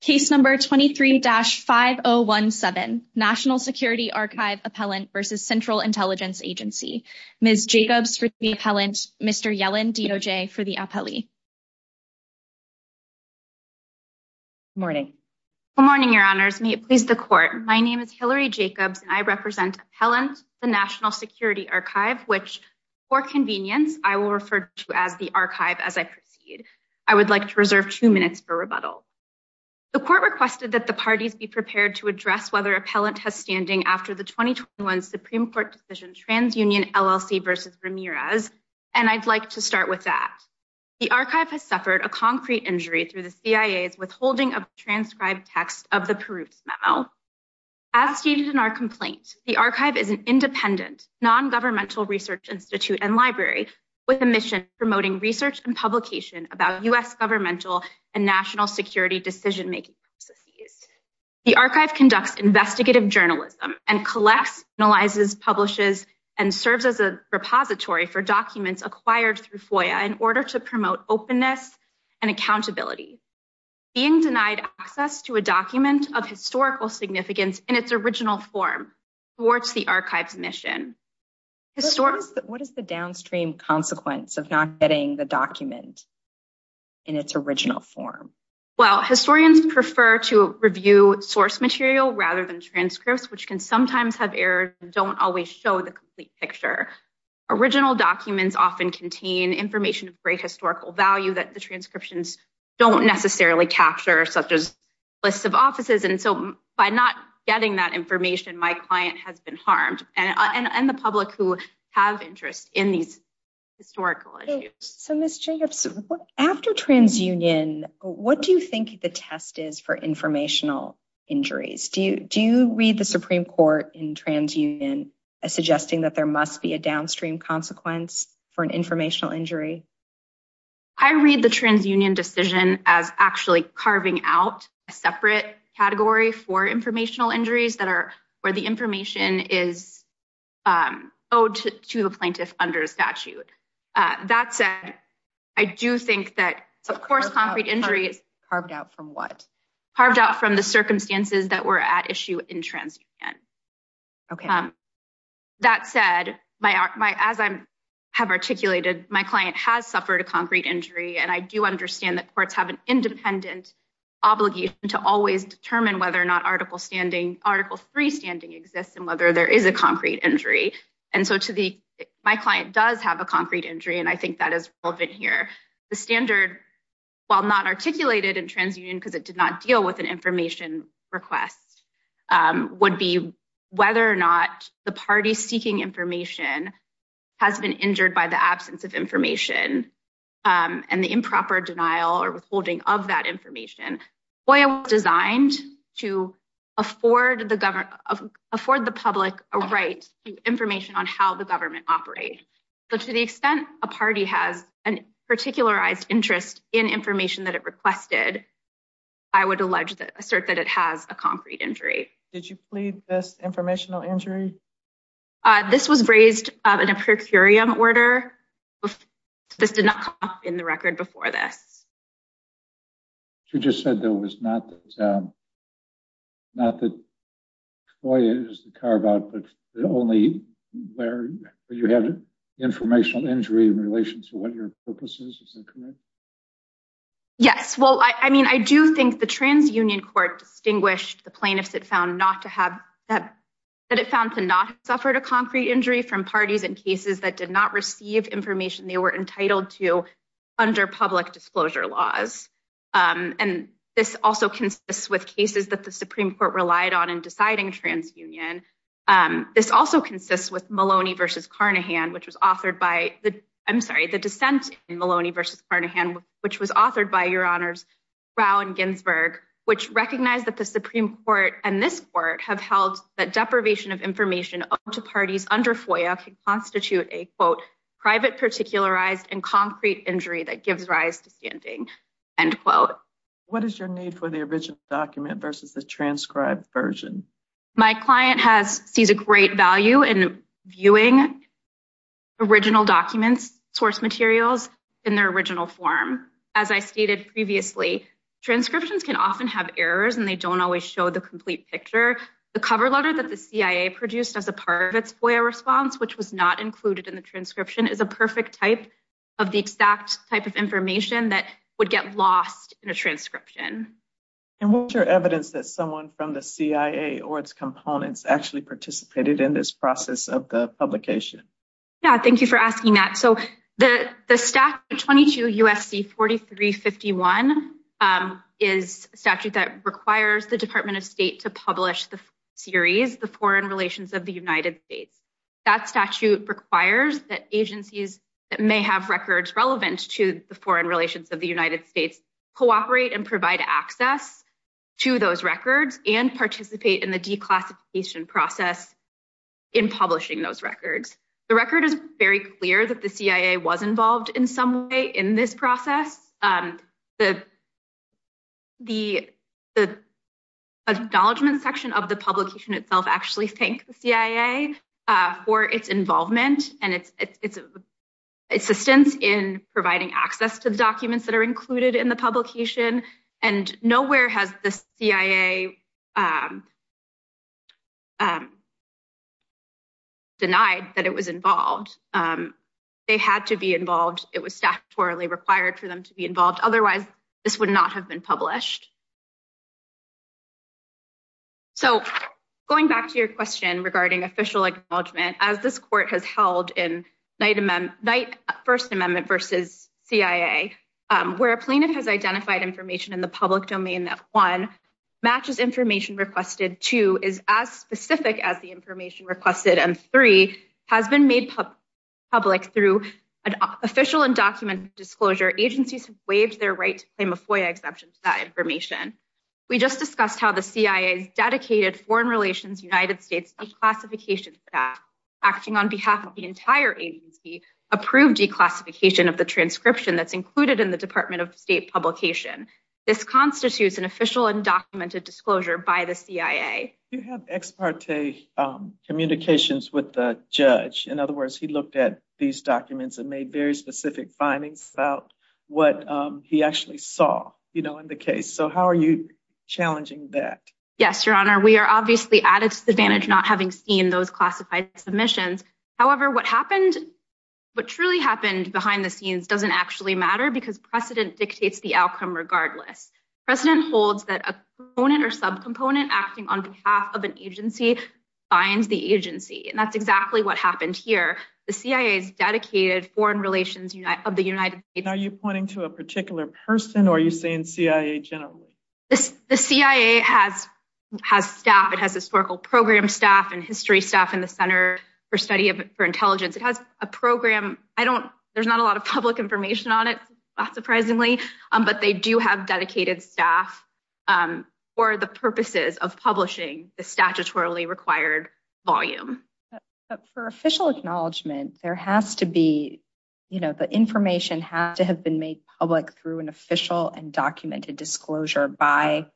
Case number 23-5017, National Security Archive Appellant v. Central Intelligence Agency. Ms. Jacobs for the appellant. Mr. Yellen, DOJ, for the appellee. Morning. Good morning, Your Honors. May it please the Court. My name is Hilary Jacobs, and I represent Appellant, the National Security Archive, which, for convenience, I will refer to as the Archive as I proceed. I would like to reserve two minutes for rebuttal. The Court requested that the parties be prepared to address whether appellant has standing after the 2021 Supreme Court decision TransUnion LLC v. Ramirez, and I'd like to start with that. The Archive has suffered a concrete injury through the CIA's withholding of transcribed text of the Perutz memo. As stated in our complaint, the Archive is an independent, non-governmental research institute and library with a mission promoting research and publication about U.S. governmental and national security decision-making processes. The Archive conducts investigative journalism and collects, analyzes, publishes, and serves as a repository for documents acquired through FOIA in order to promote openness and accountability. Being denied access to a document of historical significance in its original form thwarts the Archive's mission. What is the downstream consequence of not getting the document in its original form? Well, historians prefer to review source material rather than transcripts, which can sometimes have errors and don't always show the complete picture. Original documents often contain information of great historical value that the transcriptions don't necessarily capture, such as lists of offices, and so by not getting that information, my client has been harmed, and the public who have interest in these historical issues. So, Ms. Jacobs, after TransUnion, what do you think the test is for informational injuries? Do you read the Supreme Court in TransUnion as suggesting that there must be a downstream consequence for an informational injury? I read the TransUnion decision as actually carving out a separate category for informational injuries where the information is owed to the plaintiff under statute. That said, I do think that, of course, concrete injury is carved out from what? Carved out from the circumstances that were at issue in TransUnion. Okay. That said, as I have articulated, my client has suffered a concrete injury, and I do understand that courts have an independent obligation to always determine whether or not Article 3 standing exists and whether there is a concrete injury, and so my client does have a concrete injury, and I think that is relevant here. The standard, while not articulated in TransUnion because it did not deal with an information request, would be whether or not the party seeking information has been injured by the absence of information and the improper denial or withholding of that information. FOIA was designed to afford the public a right to information on how the government operates, but to the extent a party has a particular interest in information that it requested, I would assert that it has a concrete injury. Did you plead this informational injury? This was raised in a per curiam order. This did not come up in the record before this. You just said that it was not that FOIA is carved out, but only where you have informational injury in relation to what your purpose is. Is that correct? Yes. Well, I mean, I do think the suffered a concrete injury from parties in cases that did not receive information they were entitled to under public disclosure laws, and this also consists with cases that the Supreme Court relied on in deciding TransUnion. This also consists with Maloney v. Carnahan, which was authored by, I'm sorry, the dissent in Maloney v. Carnahan, which was authored by, Your Honors, Rao and Ginsberg, which recognized that the Supreme Court and this court have held that parties under FOIA can constitute a private particularized and concrete injury that gives rise to standing. What is your need for the original document versus the transcribed version? My client sees a great value in viewing original documents, source materials in their original form. As I stated previously, transcriptions can often have errors and they don't always show the complete picture. The cover letter that the CIA produced as a part of its FOIA response, which was not included in the transcription, is a perfect type of the exact type of information that would get lost in a transcription. And what's your evidence that someone from the CIA or its components actually participated in this process of the publication? Yeah, thank you for asking that. So the statute 22 U.S.C. 4351 is a statute that requires the Department of State to publish the series, The Foreign Relations of the United States. That statute requires that agencies that may have records relevant to the foreign relations of the United States cooperate and provide access to those records and participate in the declassification process in publishing those records. So it's clear that the CIA was involved in some way in this process. The acknowledgment section of the publication itself actually thanked the CIA for its involvement and its assistance in providing access to the documents that are included in the publication. And nowhere has the CIA denied that it was involved. They had to be involved. It was statutorily required for them to be involved. Otherwise, this would not have been published. So going back to your question regarding official acknowledgement, as this court has held in First Amendment versus CIA, where a plaintiff has identified information in the public domain that, one, matches information requested, two, is as specific as the information requested, and three, has been made public through an official and documented disclosure, agencies have waived their right to claim a FOIA exemption to that information. We just discussed how the CIA's dedicated Foreign Relations of the United States declassification act, acting on behalf of the entire agency, approved declassification of the transcription that's included in the Department of State publication. This constitutes an official and documented disclosure by the CIA. You have ex parte communications with the judge. In other words, he looked at these documents and made very specific findings about what he actually saw in the case. So how are you challenging that? Yes, Your Honor, we are obviously at a disadvantage not having seen those classified submissions. However, what truly happened behind the scenes doesn't actually matter because precedent dictates the outcome regardless. Precedent holds that a component or subcomponent acting on behalf of an agency binds the agency, and that's exactly what happened here. The CIA's dedicated Foreign Relations of the United States... Are you pointing to a particular person, or are you saying CIA generally? The CIA has staff. It has historical program staff and history staff in the Center for Study for Intelligence. It has a program. There's not a lot of public information on it, not surprisingly, but they do have dedicated staff for the purposes of publishing the statutorily required volume. But for official acknowledgement, there has to be, you know, the information has to have been made public through an official and documented disclosure by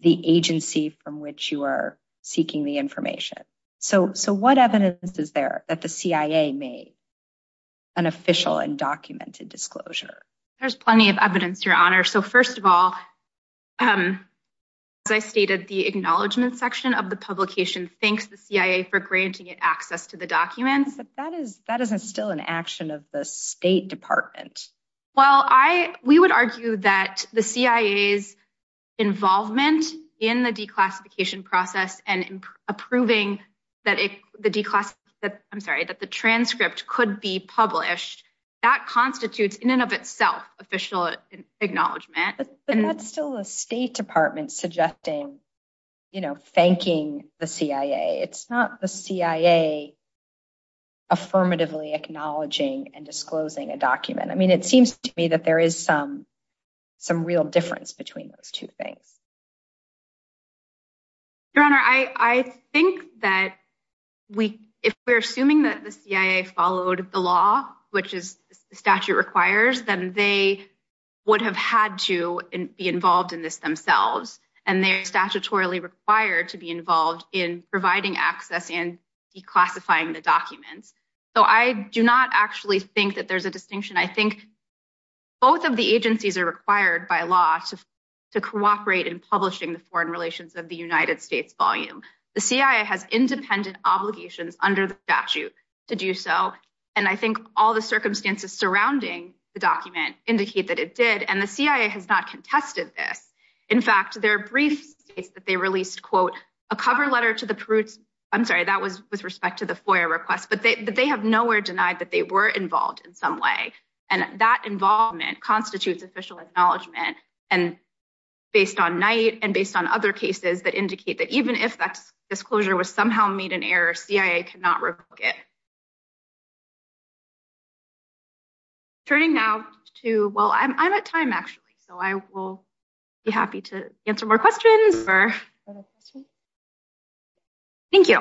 the agency from which you are seeking the information. So what evidence is there that the CIA made an official and documented disclosure? There's plenty of evidence, Your Honor. So first of all, as I stated, the acknowledgement section of the publication thanks the CIA for granting it access to the documents. But that isn't still an action of the State Department. Well, we would argue that the CIA's involvement in the declassification process and approving that the declassification... I'm sorry, that the transcript could be published, that constitutes in and of itself official acknowledgement. But that's still the State Department suggesting, you know, thanking the CIA. It's not the CIA affirmatively acknowledging and disclosing a document. I mean, it seems to me that there is some real difference between those two things. Your Honor, I think that if we're assuming that the CIA followed the law, which the statute requires, then they would have had to be involved in this themselves. And they are statutorily required to be involved in providing access and declassifying the documents. So I do not actually think that there's a distinction. I think both of the to cooperate in publishing the foreign relations of the United States volume. The CIA has independent obligations under the statute to do so. And I think all the circumstances surrounding the document indicate that it did. And the CIA has not contested this. In fact, there are brief states that they released, quote, a cover letter to the Perutz... I'm sorry, that was with respect to the FOIA request. But they have nowhere denied that they were involved in some way. And that involvement constitutes official acknowledgement. And based on night and based on other cases that indicate that even if that disclosure was somehow made an error, CIA cannot revoke it. Turning now to... Well, I'm at time, actually. So I will be happy to answer more questions. Thank you.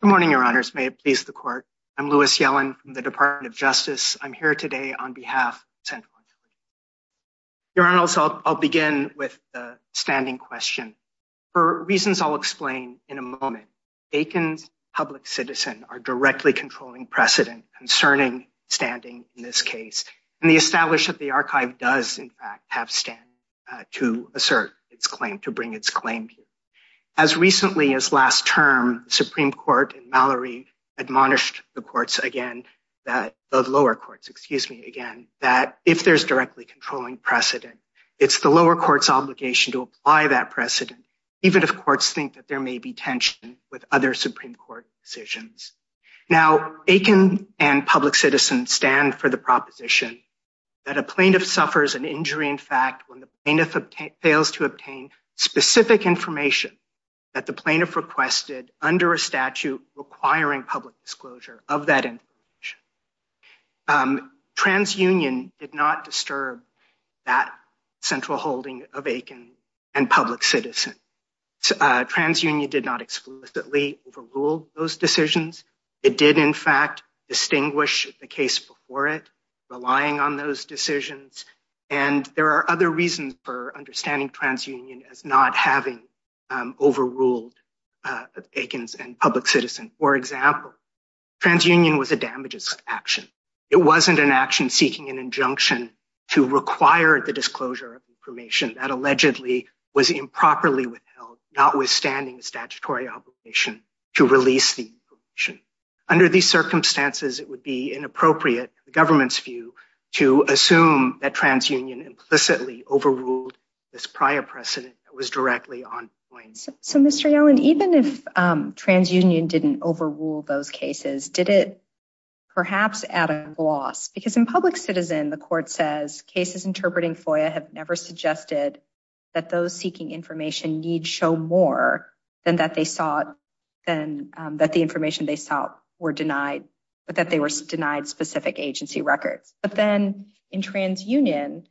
Good morning, Your Honors. May it please the Court. I'm Louis Yellen from the Department of Justice. I'm here today on behalf of... Your Honors, I'll begin with the standing question. For reasons I'll explain in a moment, Aiken's public citizen are directly controlling precedent concerning standing in this case. And the establishment of the archive does, in fact, have standing to assert its claim, to bring its claim. As recently as last term, the Supreme Court and Mallory admonished the courts again, the lower courts, excuse me, again, that if there's directly controlling precedent, it's the lower court's obligation to apply that precedent, even if courts think that there may be tension with other Supreme Court decisions. Now, Aiken and public citizens stand for the proposition that a plaintiff suffers an injury when the plaintiff fails to obtain specific information that the plaintiff requested under a statute requiring public disclosure of that information. TransUnion did not disturb that central holding of Aiken and public citizen. TransUnion did not exclusively overrule those decisions. It did, in fact, distinguish the case before it, relying on those decisions. And there are other reasons for understanding TransUnion as not having overruled Aiken's and public citizen. For example, TransUnion was a damages action. It wasn't an action seeking an injunction to require the disclosure of information that allegedly was improperly withheld, notwithstanding statutory obligation to release the information. Under these circumstances, it would be inappropriate, the government's view, to assume that TransUnion implicitly overruled this prior precedent that was directly on point. So, Mr. Yellen, even if TransUnion didn't overrule those cases, did it perhaps add a loss? Because in public citizen, the court says cases interpreting FOIA have never suggested that those seeking information need show more than that the information they sought were denied, but that they were denied specific agency records. But then in TransUnion,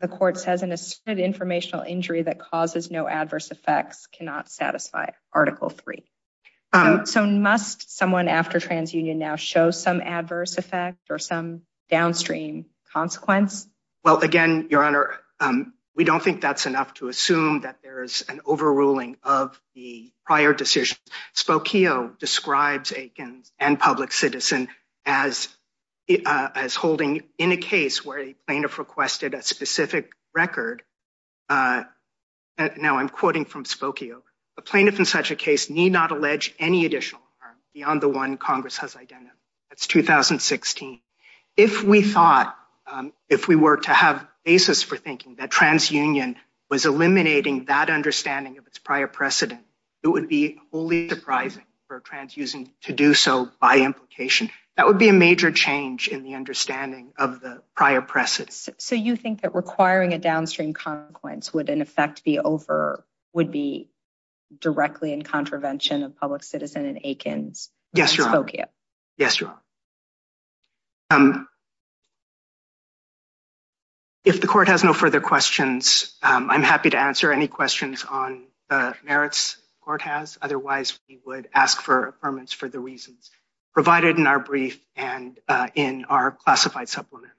the court says an asserted informational injury that causes no adverse effects cannot satisfy Article III. So must someone after TransUnion now show some adverse effect or some downstream consequence? Well, again, Your Honor, we don't think that's enough to assume that there's an overruling of the prior decision. Spokio describes Aiken's and public citizen as holding in a case where a plaintiff requested a specific record. Now, I'm quoting from Spokio. A plaintiff in such a case need not allege any additional harm beyond the one Congress has identified. That's 2016. If we thought, if we were to have a basis for thinking that TransUnion was eliminating that understanding of its prior precedent, it would be wholly surprising for TransUnion to do so by implication. That would be a major change in the understanding of the prior precedent. So you think that requiring a downstream consequence would in effect be over, would be directly in contravention of public citizen and Aiken's? Yes, Your Honor. Yes, Your Honor. If the court has no further questions, I'm happy to answer any questions on the merits the court has. Otherwise, we would ask for affirmance for the reasons provided in our brief and in our classified supplement.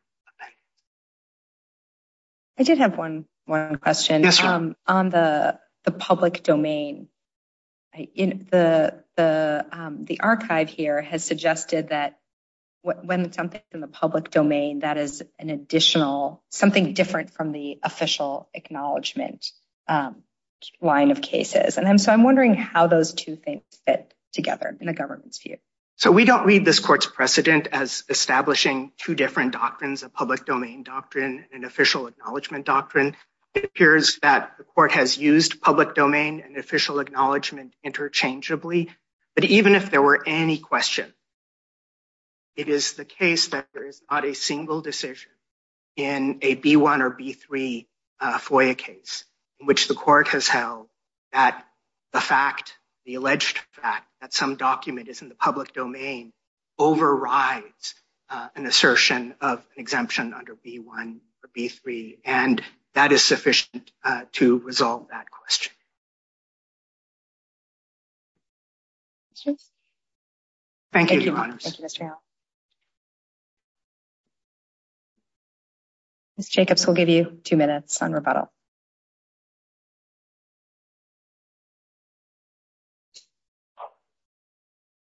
I did have one question. On the public domain, the archive here has suggested that when it's something in the public domain, that is an additional, something different from the official acknowledgement line of cases. And so I'm wondering how those two things fit together in the government's view. So we don't read this court's precedent as establishing two different doctrines, a public domain doctrine and official acknowledgement doctrine. It appears that the court has used public domain and official acknowledgement interchangeably. But even if there were any question, it is the case that there is not a single decision in a B1 or B3 FOIA case in which the court has held that the fact, the alleged fact that some document is in the public domain overrides an assertion of an exemption under B1 or B3. And that is sufficient to resolve that question. Thank you, Your Honors. Ms. Jacobs will give you two minutes on rebuttal.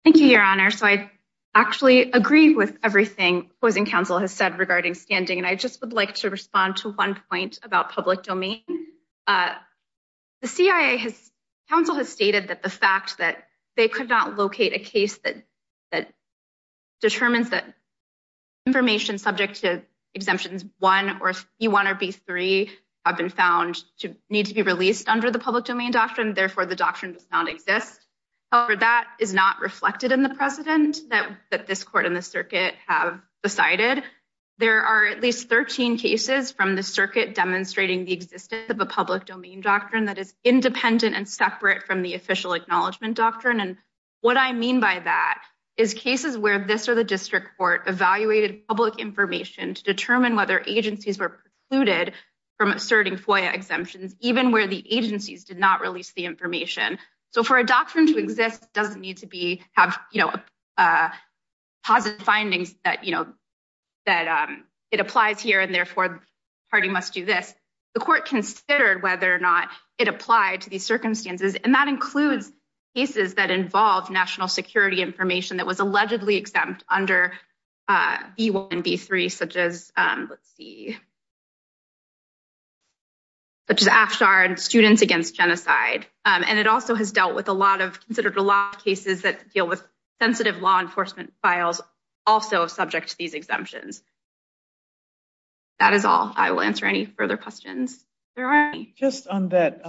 Thank you, Your Honor. So I actually agree with everything opposing counsel has said regarding standing. And I just would like to respond to one point about public domain. The CIA has, counsel has stated that the fact that they could not locate a case that determines that information subject to exemptions 1 or B1 or B3 have been found to need to be released under the public domain doctrine. Therefore, the doctrine does not exist. However, that is not reflected in the precedent that this court and the circuit have decided. There are at least 13 cases from the circuit demonstrating the existence of a public domain doctrine that is independent and separate from the official acknowledgement doctrine. And what I mean by that is cases where this or the information to determine whether agencies were precluded from asserting FOIA exemptions, even where the agencies did not release the information. So for a doctrine to exist, it doesn't need to be have, you know, positive findings that, you know, that it applies here and therefore the party must do this. The court considered whether or not it applied to these circumstances. And that includes cases that involve national security information that was allegedly exempt under B1 and B3, such as, let's see, such as Afshar and Students Against Genocide. And it also has dealt with a lot of, considered a lot of cases that deal with sensitive law enforcement files also subject to these exemptions. That is all. I will answer any further questions. Just on that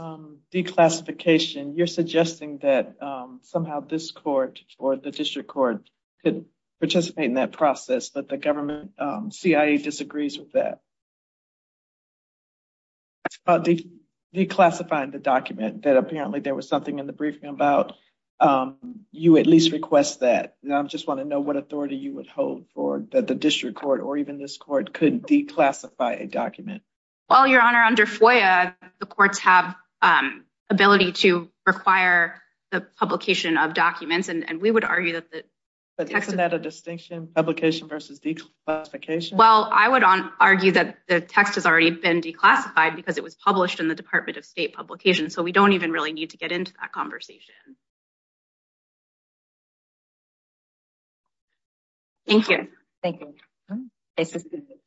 declassification, you're suggesting that somehow this court or the district court could participate in that process, that the government, CIA disagrees with that. Declassifying the document that apparently there was something in the briefing about, you at least request that. And I just want to know what authority you would hold for that the district court or even this court could declassify a document. Well, Your Honor, under FOIA, the courts have ability to require the publication of documents and we would argue that the text. Isn't that a distinction, publication versus declassification? Well, I would argue that the text has already been declassified because it was published in the Department of State Publications. So we don't even really need to get into that conversation. Thank you. Thank you.